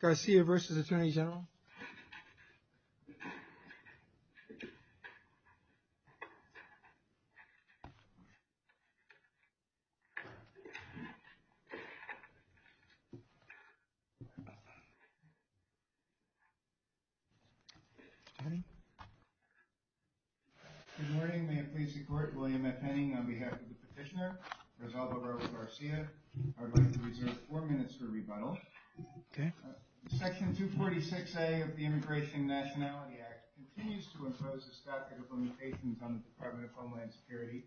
Garcia verses the Attorney General. Good morning, may it please the Court, William F. Penning on behalf of the Petitioner, Rezaldo Garcia. I would like to reserve four minutes for rebuttal. Section 246A of the Immigration and Nationality Act continues to impose a statute of limitations on the Department of Homeland Security,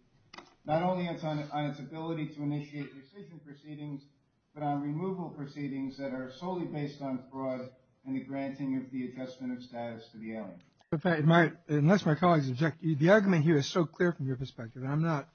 not only on its ability to initiate rescission proceedings, but on removal proceedings that are solely based on fraud and the granting of the adjustment of status to the alien. In fact, unless my colleagues object, the argument here is so clear from your perspective and I'm not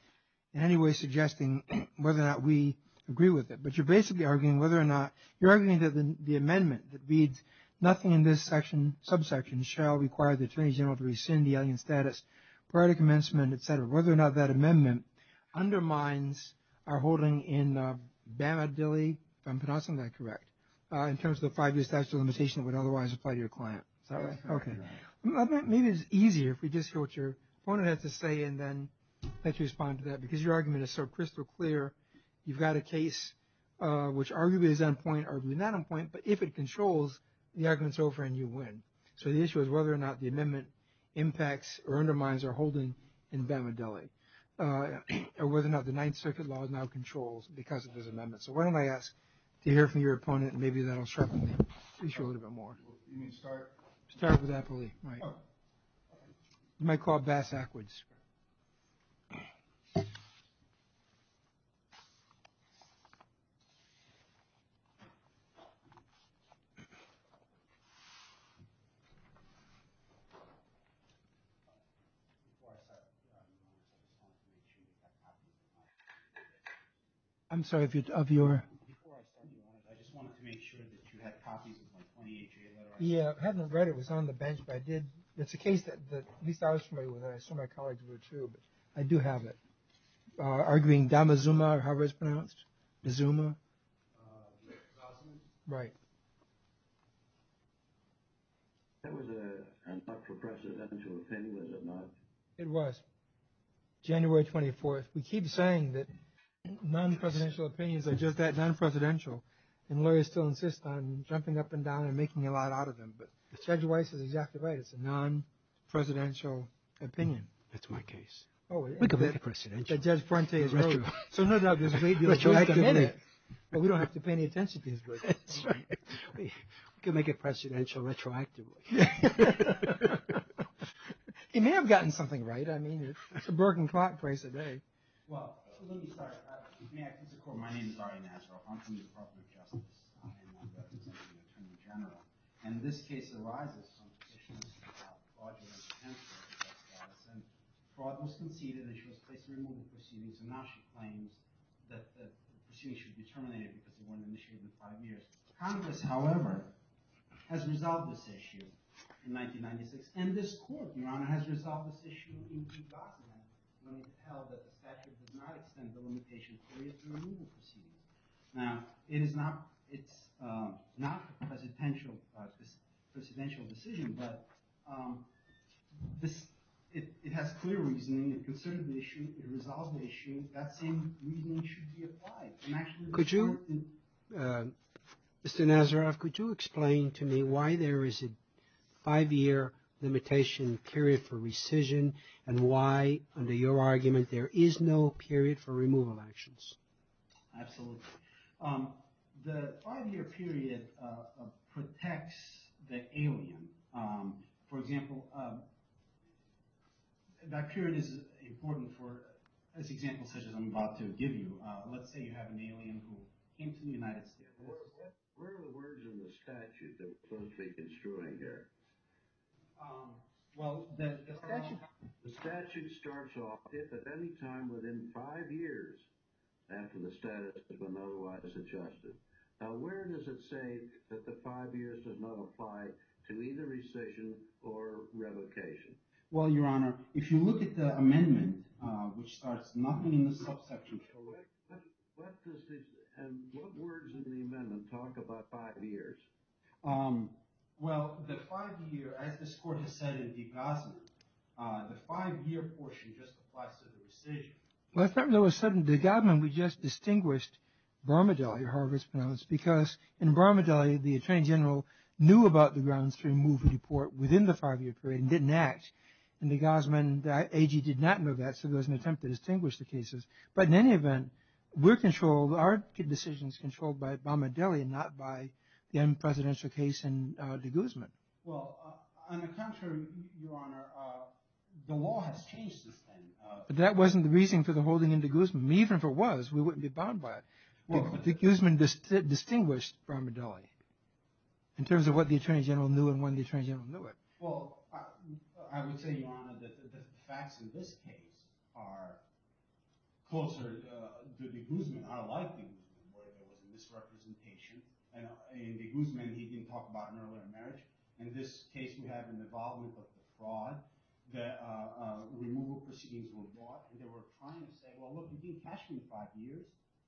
in any way suggesting whether or not we agree with it, but you're basically arguing whether or not, you're arguing that the amendment that reads, nothing in this section, subsection, shall require the Attorney General to rescind the alien status prior to commencement, et cetera, whether or not that amendment undermines our holding in Bama Dilley, if I'm pronouncing that correct, in terms of the five-year statute of limitation that would otherwise apply to your client. Is that right? Okay. Maybe it's easier if we just hear what your opponent has to say and then let you respond to that because your argument is so crystal clear. You've got a case which arguably is on point, arguably not on point, but if it controls, the argument's over and you win. So the issue is whether or not the amendment impacts or undermines our holding in Bama Dilley, or whether or not the Ninth Circuit law now controls because of this amendment. So why don't I ask to hear from your opponent and maybe that'll sharpen the issue a little bit more. You mean start? Start with Apolli. Oh. You might call it Bass-Ackwards. I'm sorry, I just wanted to make sure that you had copies of my 28-year letter. Yeah. I hadn't read it. It was on the bench, but I did. It's a case that at least I was familiar with and I assume my colleagues were too, but I You mean Dama-Zuma, or however it's pronounced? Zuma? Right. That was an ultra-presidential opinion, was it not? It was. January 24th. We keep saying that non-presidential opinions are just that, non-presidential, and lawyers still insist on jumping up and down and making a lot out of them, but Judge Weiss is exactly right. It's a non-presidential opinion. That's my case. We could make it presidential. Judge Prente has heard of it. So no doubt this may be a choice of many. But we don't have to pay any attention to his book. That's right. We could make it presidential retroactively. He may have gotten something right. I mean, it's a broken clock twice a day. Well, let me start. If you may, I can take a call. My name is Ari Nasr. I'm from the Department of Justice. I am a representative of the Attorney General. And in this case, there arises some suspicion about fraudulent detention of the judge's office. And fraud was conceded, and she was placed in removal proceedings. And now she claims that the proceedings should be terminated because they weren't initiated in five years. Congress, however, has resolved this issue in 1996. And this court, Your Honor, has resolved this issue in due document when it's held that the statute does not extend the limitation period to removal proceedings. Now, it's not a presidential decision. But it has clear reasoning. It concerned the issue. It resolved the issue. That same reasoning should be applied. Mr. Nazaroff, could you explain to me why there is a five-year limitation period for rescission and why, under your argument, there is no period for removal actions? Absolutely. The five-year period protects the alien. For example, that period is important for, as examples such as I'm about to give you. Let's say you have an alien who came to the United States. Where are the words in the statute that were supposed to be construed there? Well, the statute starts off if at any time within five years after the status has been otherwise adjusted. Now, where does it say that the five years does not apply to either rescission or revocation? Well, Your Honor, if you look at the amendment, which starts nothing in the subsection. And what words in the amendment talk about five years? Well, the five-year, as this Court has said in de Gaussman, the five-year portion just applies to the rescission. Well, I thought it was sudden. De Gaussman, we just distinguished Bramadelli, however it's pronounced, because in Bramadelli, the Attorney General knew about the grounds to remove a deport within the five-year period and didn't act. In de Gaussman, the AG did not know that, so there was an attempt to distinguish the cases. But in any event, we're controlled, our decisions are controlled by Bramadelli and not by the unpresidential case in de Gaussman. Well, on the contrary, Your Honor, the law has changed since then. But that wasn't the reason for the holding in de Gaussman. Even if it was, we wouldn't be bound by it. De Gaussman distinguished Bramadelli in terms of what the Attorney General knew and when the Attorney General knew it. Well, I would say, Your Honor, that the facts in this case are closer to de Gaussman, our liking, where there was a misrepresentation. In de Gaussman, he didn't talk about an earlier marriage. In this case, we have an involvement with the fraud. The removal proceedings were brought, and they were trying to say, well, look, you can't catch me in five years.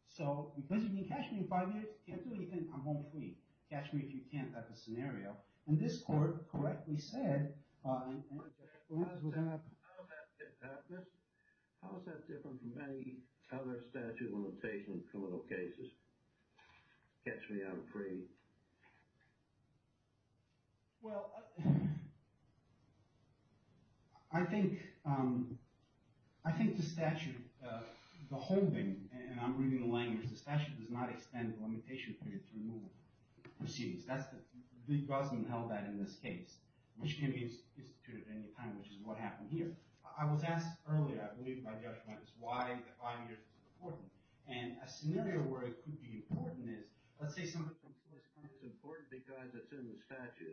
So because you can't catch me in five years, you can't do anything, I'm home free. Catch me if you can't, that's the scenario. And this court correctly said, and the evidence was in that. How is that different from any other statute limitation in criminal cases? Catch me, I'm free. Well, I think the statute, the holding, and I'm reading the language, the statute does not extend the limitation period for removal proceedings. De Gaussman held that in this case, which can be instituted at any time, which is what happened here. I was asked earlier, I believe by judgment, is why five years is important. And a scenario where it could be important is, let's say somebody from court claims it's important because it's in the statute.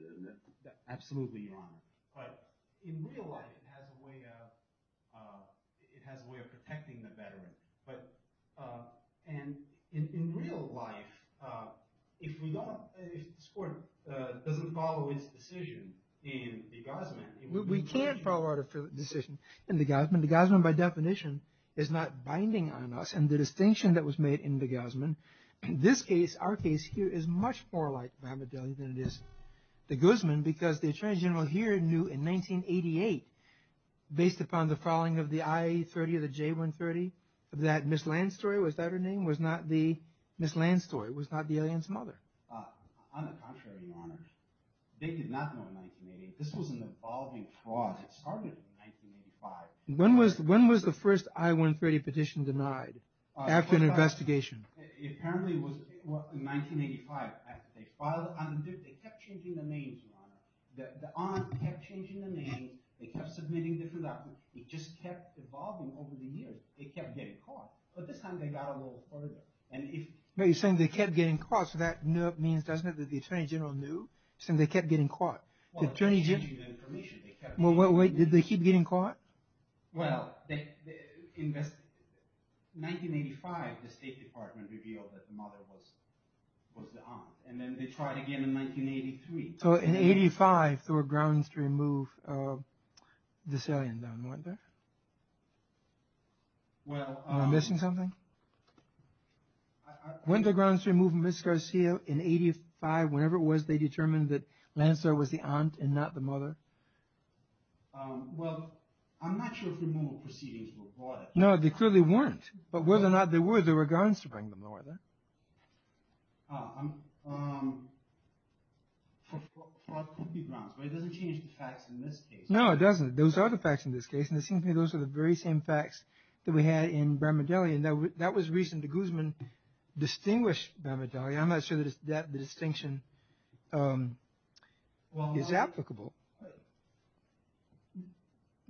Absolutely, Your Honor. But in real life, it has a way of protecting the veteran. And in real life, if the court doesn't follow its decision in De Gaussman. We can't follow our decision in De Gaussman. De Gaussman, by definition, is not binding on us. And the distinction that was made in De Gaussman, in this case, our case here, is much more like Muhammad Ali than it is De Gaussman because the attorney general here knew in 1988, based upon the following of the I-30, the J-130, that Ms. Landstory, was that her name, was not the Ms. Landstory, was not the alien's mother. On the contrary, Your Honor, they did not know in 1988. This was an evolving fraud. It started in 1985. When was the first I-130 petition denied after an investigation? It apparently was in 1985. They kept changing the names, Your Honor. The aunt kept changing the names. They kept submitting different documents. It just kept evolving over the years. They kept getting caught. But this time, they got a little further. You're saying they kept getting caught. So that means, doesn't it, that the attorney general knew? You're saying they kept getting caught. Well, they kept changing the information. Wait, did they keep getting caught? Well, in 1985, the State Department revealed that the mother was the aunt. And then they tried again in 1983. So in 1985, there were grounds to remove this alien, then, weren't there? Am I missing something? Weren't there grounds to remove Ms. Garcia in 1985? Whenever it was, they determined that Landstory was the aunt and not the mother? Well, I'm not sure if removal proceedings were brought up. No, they clearly weren't. But whether or not they were, there were grounds to bring them, though, weren't there? Oh, there could be grounds. But it doesn't change the facts in this case. No, it doesn't. Those are the facts in this case. And it seems to me those are the very same facts that we had in Bramadelli. And that was reason to Guzman distinguished Bramadelli. I'm not sure that the distinction is applicable.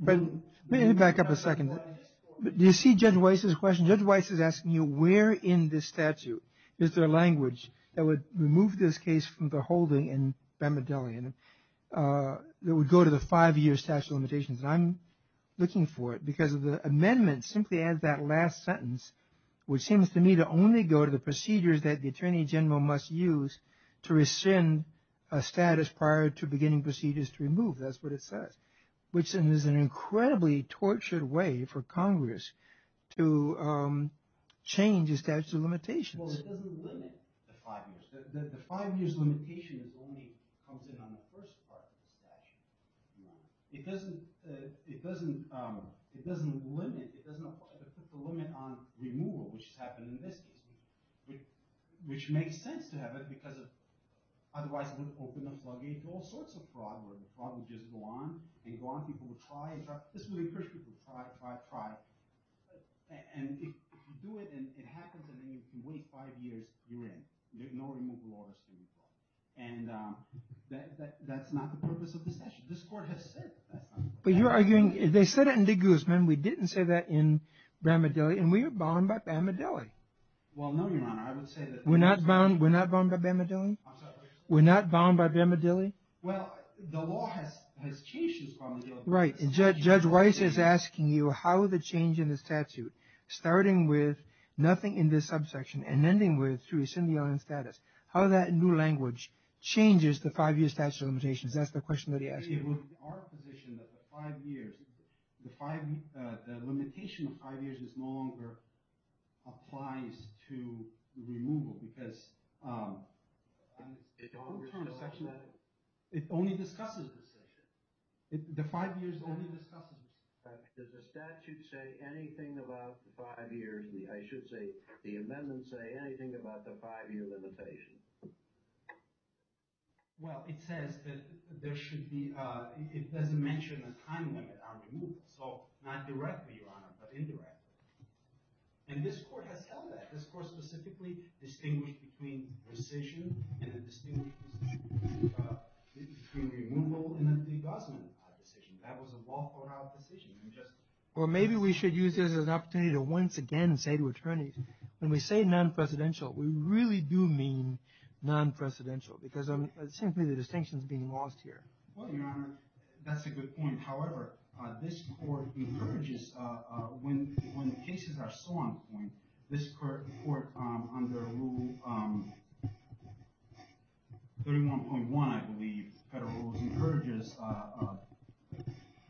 But let me back up a second. Do you see Judge Weiss's question? Judge Weiss is asking you where in this statute is there language that would remove this case from the holding in Bramadelli and that would go to the five-year statute of limitations? And I'm looking for it because of the amendment simply adds that last sentence, which seems to me to only go to the procedures that the attorney general must use to rescind a status prior to beginning procedures to remove. That's what it says. Which is an incredibly tortured way for Congress to change a statute of limitations. Well, it doesn't limit the five years. The five years limitation only comes in on the first part of the statute. No. It doesn't limit. It doesn't put the limit on removal, which has happened in this case. Which makes sense to have it because otherwise it would open a floodgate to all sorts of fraud. The fraud would just go on and go on. People would try and try. This would encourage people to try, try, try. And if you do it and it happens and then you can wait five years, you're in. No removal order is going to be brought. And that's not the purpose of the statute. This court has said that's not the purpose. But you're arguing they said it in De Guzman. We didn't say that in Bramadelli. And we were bound by Bramadelli. Well, no, Your Honor. I would say that. We're not bound by Bramadelli? I'm sorry. We're not bound by Bramadelli? Well, the law has changed since Bramadelli. Right. Judge Weiss is asking you how the change in the statute, starting with nothing in this subsection and ending with a syndialing status, how that new language changes the five-year statute of limitations. That's the question that he asked you. It would be our position that the five years, the limitation of five years no longer applies to removal. Because it only discusses this section. The five years only discusses this section. Does the statute say anything about the five years? I should say the amendments say anything about the five-year limitation. Well, it says that there should be, it doesn't mention a time limit on removal. So, not directly, Your Honor, but indirectly. And this Court has held that. This Court specifically distinguished between rescission and a distinguished decision between removal and a debasement decision. That was a lawful decision. Well, maybe we should use this as an opportunity to once again say to attorneys, when we say non-presidential, we really do mean non-presidential. Because it seems to me the distinction is being lost here. Well, Your Honor, that's a good point. However, this Court encourages, when cases are so on point, this Court, under Rule 31.1, I believe, federal rules encourages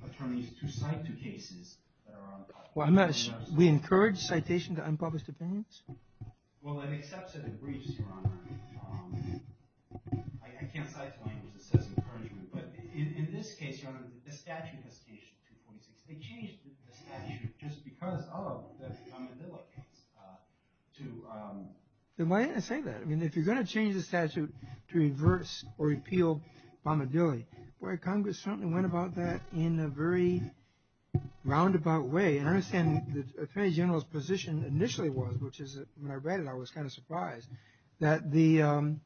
attorneys to cite to cases that are on the top. We encourage citation to unpublished opinions? Well, it accepts it in briefs, Your Honor. I can't cite to language that says encouragement. But in this case, Your Honor, the statute has changed 2.6. They changed the statute just because of the bombadilla case. Then why didn't it say that? I mean, if you're going to change the statute to reverse or repeal bombadilla, why, Congress certainly went about that in a very roundabout way. And I understand the Attorney General's position initially was, which is when I read it I was kind of surprised, that the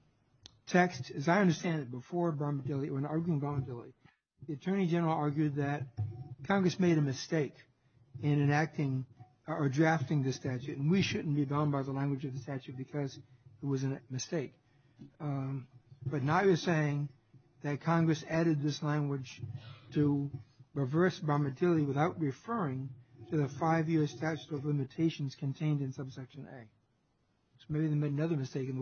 text, as I understand it, before bombadilla, when arguing bombadilla, the Attorney General argued that Congress made a mistake in enacting or drafting the statute. And we shouldn't be bound by the language of the statute because it was a mistake. But now you're saying that Congress added this language to reverse bombadilla without referring to the five-year statute of limitations contained in subsection A. So maybe they made another mistake in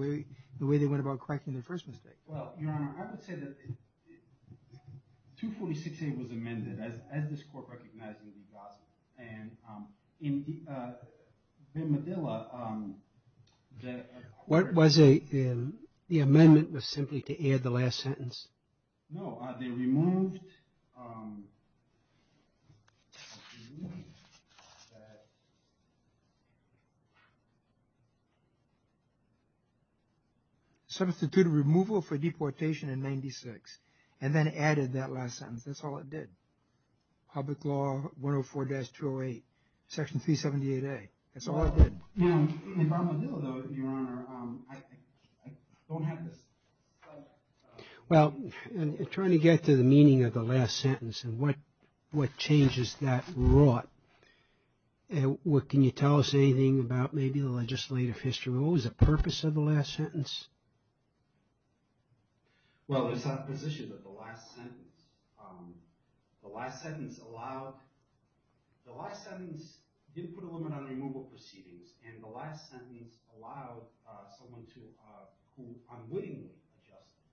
the way they went about correcting their first mistake. Well, Your Honor, I would say that 246A was amended as this Court recognized in the gospel. And in bombadilla... What was the amendment was simply to add the last sentence? No, they removed... ...substituted removal for deportation in 96 and then added that last sentence. That's all it did. Public Law 104-208, Section 378A. That's all it did. In bombadilla, though, Your Honor, I don't have this... Well, in trying to get to the meaning of the last sentence and what changes that wrought, can you tell us anything about maybe the legislative history? What was the purpose of the last sentence? Well, it's not a position of the last sentence. The last sentence allowed... The last sentence didn't put a limit on removal proceedings, and the last sentence allowed someone to... who unwittingly adjusted.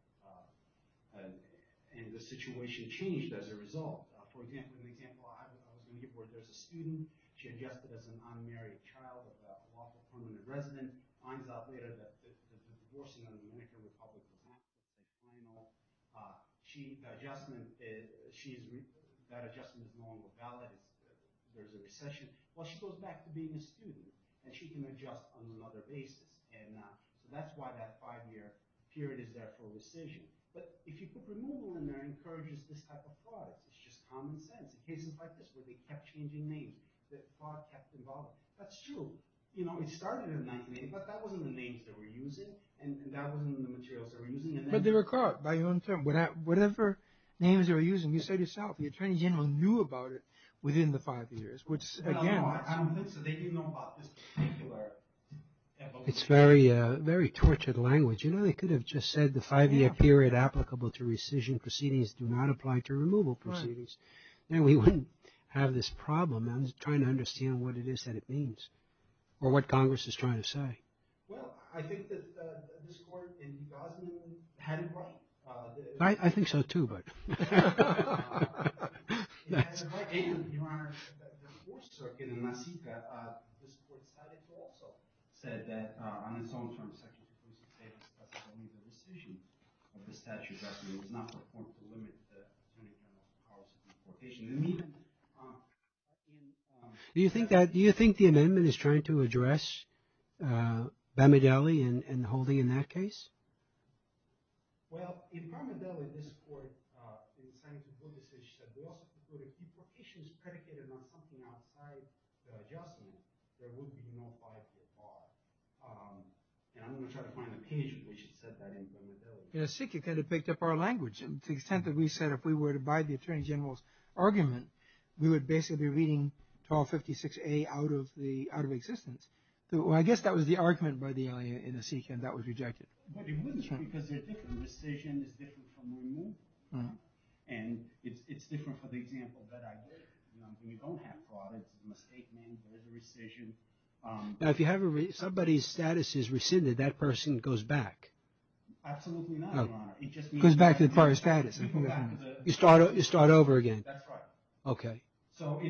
And the situation changed as a result. For example, in the example I was going to give where there's a student, she adjusted as an unmarried child of a lawful permanent resident, and then finds out later that the divorcing of the American Republic of Mexico is final. That adjustment is normal, valid. There's a recession. Well, she goes back to being a student, and she can adjust on another basis. And that's why that five-year period is there for a decision. But if you put removal in there, it encourages this type of fraud. It's just common sense. In cases like this where they kept changing names, the fraud kept evolving. That's true. You know, it started in 1980, but that wasn't the names they were using, and that wasn't the materials they were using. But they were caught, by your own terms. Whatever names they were using, you said yourself, the attorney general knew about it within the five years, which, again... I don't think so. They didn't know about this particular evolution. It's very tortured language. You know, they could have just said, the five-year period applicable to rescission proceedings do not apply to removal proceedings. Then we wouldn't have this problem. I'm trying to understand what it is that it means, or what Congress is trying to say. Well, I think that this Court in New Gosselin had it right. I think so, too, but... Your Honor, the Fourth Circuit in Massaica, this Court decided to also say that, on its own terms, Secretary Pruzzik said it was only the decision of the statute that was not the point to limit the attorney general's cause of deportation. Do you think the amendment is trying to address Bamadelli and the holding in that case? Well, in Bamadelli, this Court decided to do the same. It said they also prefer to keep locations predicated on something outside the adjustment. There would be no five-year bar. And I'm going to try to find the page in which it said that in Bamadelli. In Massaica, it kind of picked up our language. To the extent that we said, if we were to abide the attorney general's argument, we would basically be reading 1256A out of existence. Well, I guess that was the argument by the LA in Massaica, and that was rejected. But it wasn't because they're different. The decision is different from removal. And it's different for the example that I did. We don't have fraud. It's a misstatement. There's a rescission. Now, if you have somebody's status is rescinded, that person goes back. Absolutely not, Your Honor. It just means back to the status. You start over again. That's right. Okay.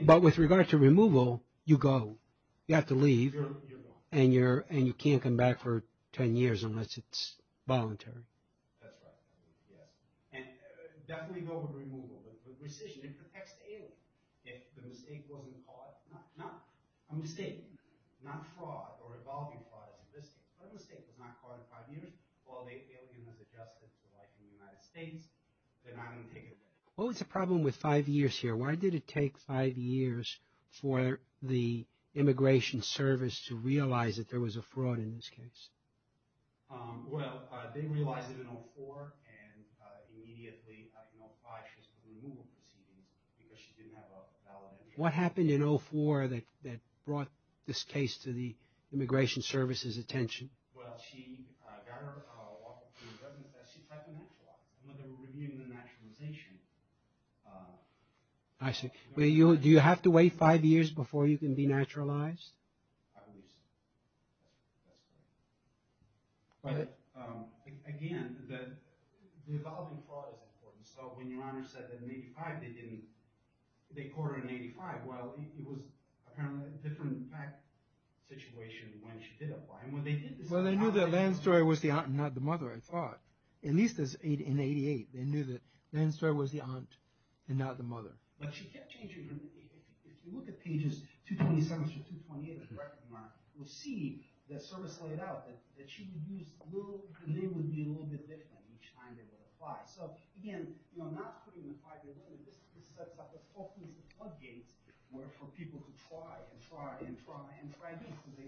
But with regard to removal, you go. You have to leave. You're gone. And you can't come back for 10 years unless it's voluntary. That's right. Yes. And definitely go with removal. But rescission, it protects the alien. If the mistake wasn't caught, not a mistake, not fraud or involving fraud as in this case, but a mistake was not caught in five years, while the alien has adjusted to life in the United States, they're not going to take it. What was the problem with five years here? Why did it take five years for the immigration service to realize that there was a fraud in this case? Well, they realized it in 04 and immediately applied for removal proceedings because she didn't have a valid immigration status. What happened in 04 that brought this case to the immigration service's attention? Well, she got her walkup to the residence desk. She tried to naturalize. When they were reviewing the naturalization. I see. Do you have to wait five years before you can be naturalized? I believe so. That's good. But again, the involving fraud is important. So when your honor said that in 85 they didn't, they caught her in 85. Well, it was apparently a different fact situation when she did apply. Well, they knew that Lansdor was the aunt and not the mother, I thought. At least in 88, they knew that Lansdor was the aunt and not the mother. But she kept changing her name. If you look at pages 227 through 228 of the record mark, you'll see the service laid out that she would use, the name would be a little bit different each time they would apply. So again, not putting the five-year limit, this sets up a whole piece of floodgates for people to try and try and try and try because the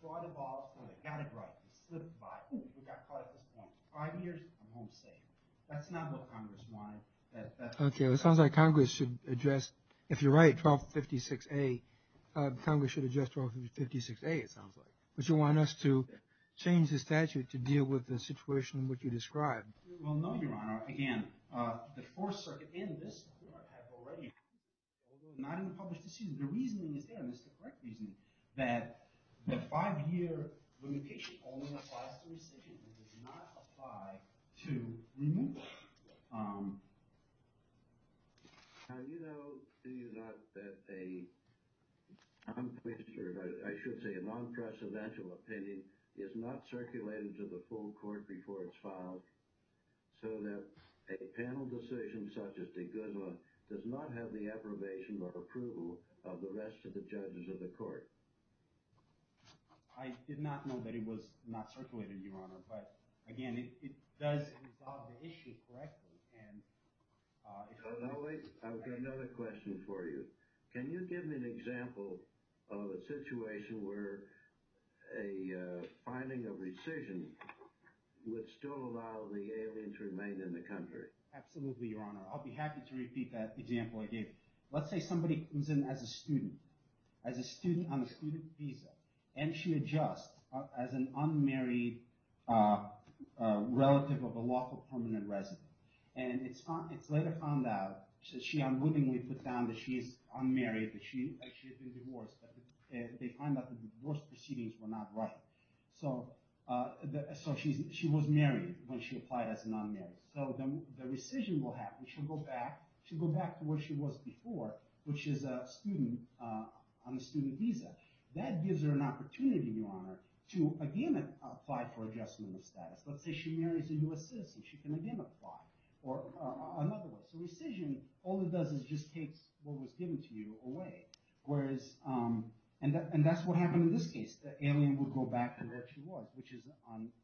fraud evolved and they got it right. They slipped by. We got caught at this point. Five years, I'm home safe. That's not what Congress wanted. Okay, it sounds like Congress should address, if you're right, 1256A, Congress should address 1256A, it sounds like. But you want us to change the statute to deal with the situation in which you described. Well, no, Your Honor. Again, the Fourth Circuit and this court have already, although not in the published decision, the reasoning is there, and this is the correct reasoning, that the five-year limitation only applies to rescission and does not apply to removal. Do you know, do you not, that a, I'm pretty sure, I should say a non-precedential opinion is not circulated to the full court reports filed so that a panel decision such as de Guzla does not have the approbation or approval of the rest of the judges of the court? I did not know that it was not circulated, Your Honor, but again, it does resolve the issue correctly, and... No, no, wait, I've got another question for you. Can you give me an example of a situation where a finding of rescission would still allow the alien to remain in the country? Absolutely, Your Honor. I'll be happy to repeat that example I gave. Let's say somebody comes in as a student, as a student on a student visa, and she adjusts as an unmarried relative of a lawful permanent resident, and it's later found out, she unwittingly puts down that she is unmarried, that she actually has been divorced, and they find out the divorce proceedings were not right. So she was married when she applied as a non-married. So the rescission will happen. which is a student on a student visa. That gives her an opportunity, Your Honor, to again apply for adjustment of status. Let's say she marries a U.S. citizen. She can again apply, or another way. So rescission, all it does is just takes what was given to you away. Whereas, and that's what happened in this case. The alien would go back to where she was, which is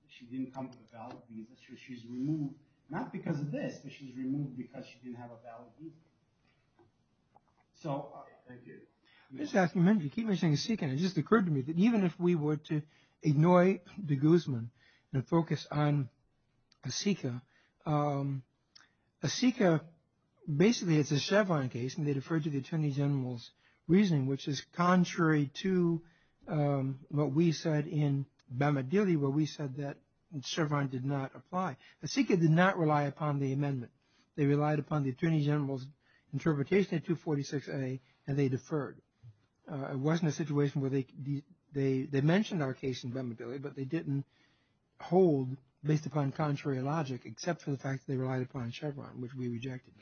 she didn't come with a valid visa, so she's removed, not because of this, but she's removed because she didn't have a valid visa. So... Thank you. I'm just asking a minute. You keep mentioning Assika, and it just occurred to me that even if we were to ignore de Guzman and focus on Assika, Assika, basically it's a Chevron case, and they defer to the Attorney General's reasoning, which is contrary to what we said in Bamadili, where we said that Chevron did not apply. Assika did not rely upon the amendment. They relied upon the Attorney General's interpretation and they deferred. It wasn't a situation where they... They mentioned our case in Bamadili, but they didn't hold, based upon contrary logic, except for the fact that they relied upon Chevron, which we rejected.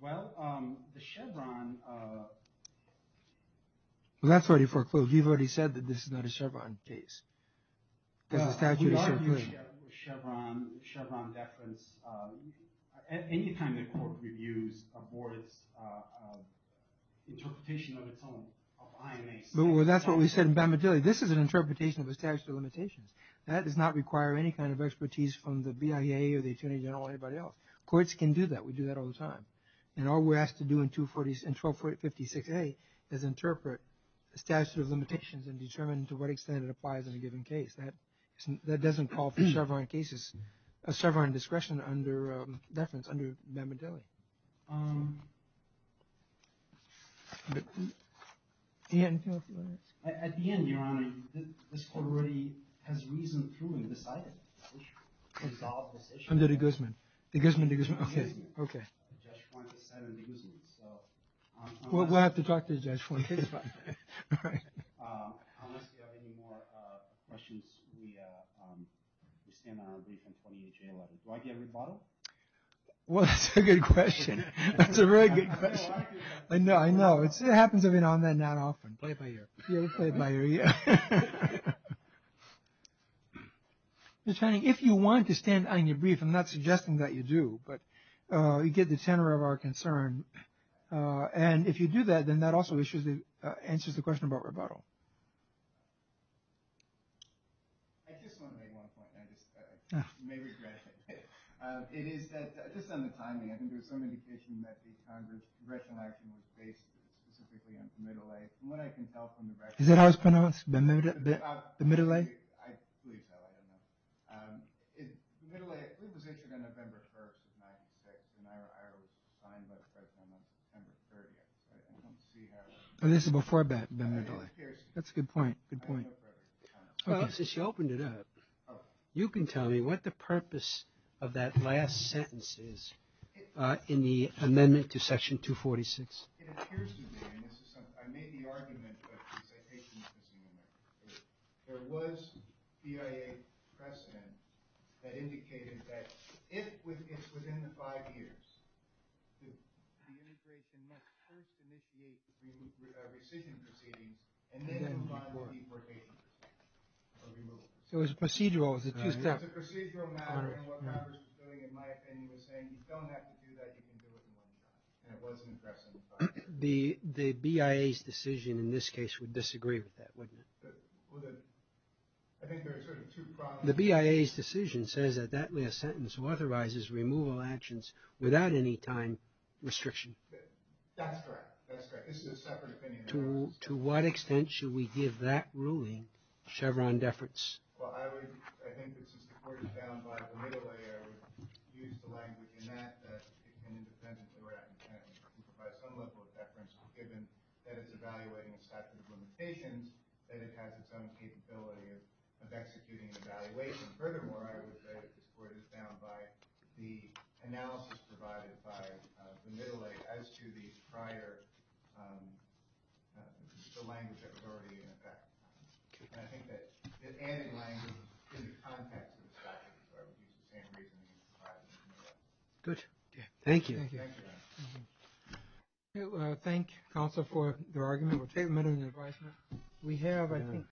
Well, the Chevron... Well, that's already foreclosed. You've already said that this is not a Chevron case. We argue with Chevron deference any time the court reviews a board's interpretation of its own, of IMA. Well, that's what we said in Bamadili. This is an interpretation of the statute of limitations. That does not require any kind of expertise from the BIA or the Attorney General or anybody else. Courts can do that. We do that all the time. And all we're asked to do in 1256A is interpret the statute of limitations and determine to what extent it applies in a given case. That doesn't call for Chevron cases... Chevron discretion under deference under Bamadili. At the end, Your Honor, this court already has reasoned through and decided to resolve this issue. Under de Guzman. De Guzman, de Guzman. Okay. Judge Fuentes sided with de Guzman, so... We'll have to talk to Judge Fuentes about that. All right. Unless you have any more questions, we stand on our brief on 28J11. Do I get a rebuttal? Well, that's a good question. That's a very good question. I know, I know. It happens every now and then, not often. Play it by ear. Yeah, play it by ear, yeah. If you want to stand on your brief, I'm not suggesting that you do, but you get the tenor of our concern. And if you do that, then that also answers the question about rebuttal. I just want to make one point, and I just may regret it. It is that, just on the timing, I think there was some indication that the Congress' congressional action was based specifically on the middle age. From what I can tell from the... Is that how it's pronounced? The middle age? I believe so, I don't know. The middle age, it was issued on November 1st of 96, and I was signed by the President on September 30th. Oh, this is before the middle age. That's a good point, good point. Well, since you opened it up, you can tell me what the purpose of that last sentence is in the amendment to Section 246. ...initiate the rescission proceedings, and then... So it was procedural, it was a two-step... It was a procedural matter, and what Congress was doing, in my opinion, was saying you don't have to do that, you can do it in one time. And it wasn't addressed in the final... The BIA's decision in this case would disagree with that, wouldn't it? The BIA's decision says that that last sentence authorizes removal actions without any time restriction. That's correct, that's correct. This is a separate opinion. To what extent should we give that ruling, Chevron deference? Well, I would... I think that since the Court is bound by the middle age, I would use the language in that that it can independently write and provide some level of deference, given that it's evaluating a statute of limitations, that it has its own capability of executing an evaluation. Furthermore, I would say that this Court is bound by the analysis provided by the middle age as to the prior... the language that was already in effect. And I think that adding language in the context of the statute is the same reason that you can apply it in the middle age. Good. Thank you. Thank you, Your Honor. Thank you, Counsel, for your argument. We'll take a minute of your advisement. We have, I think...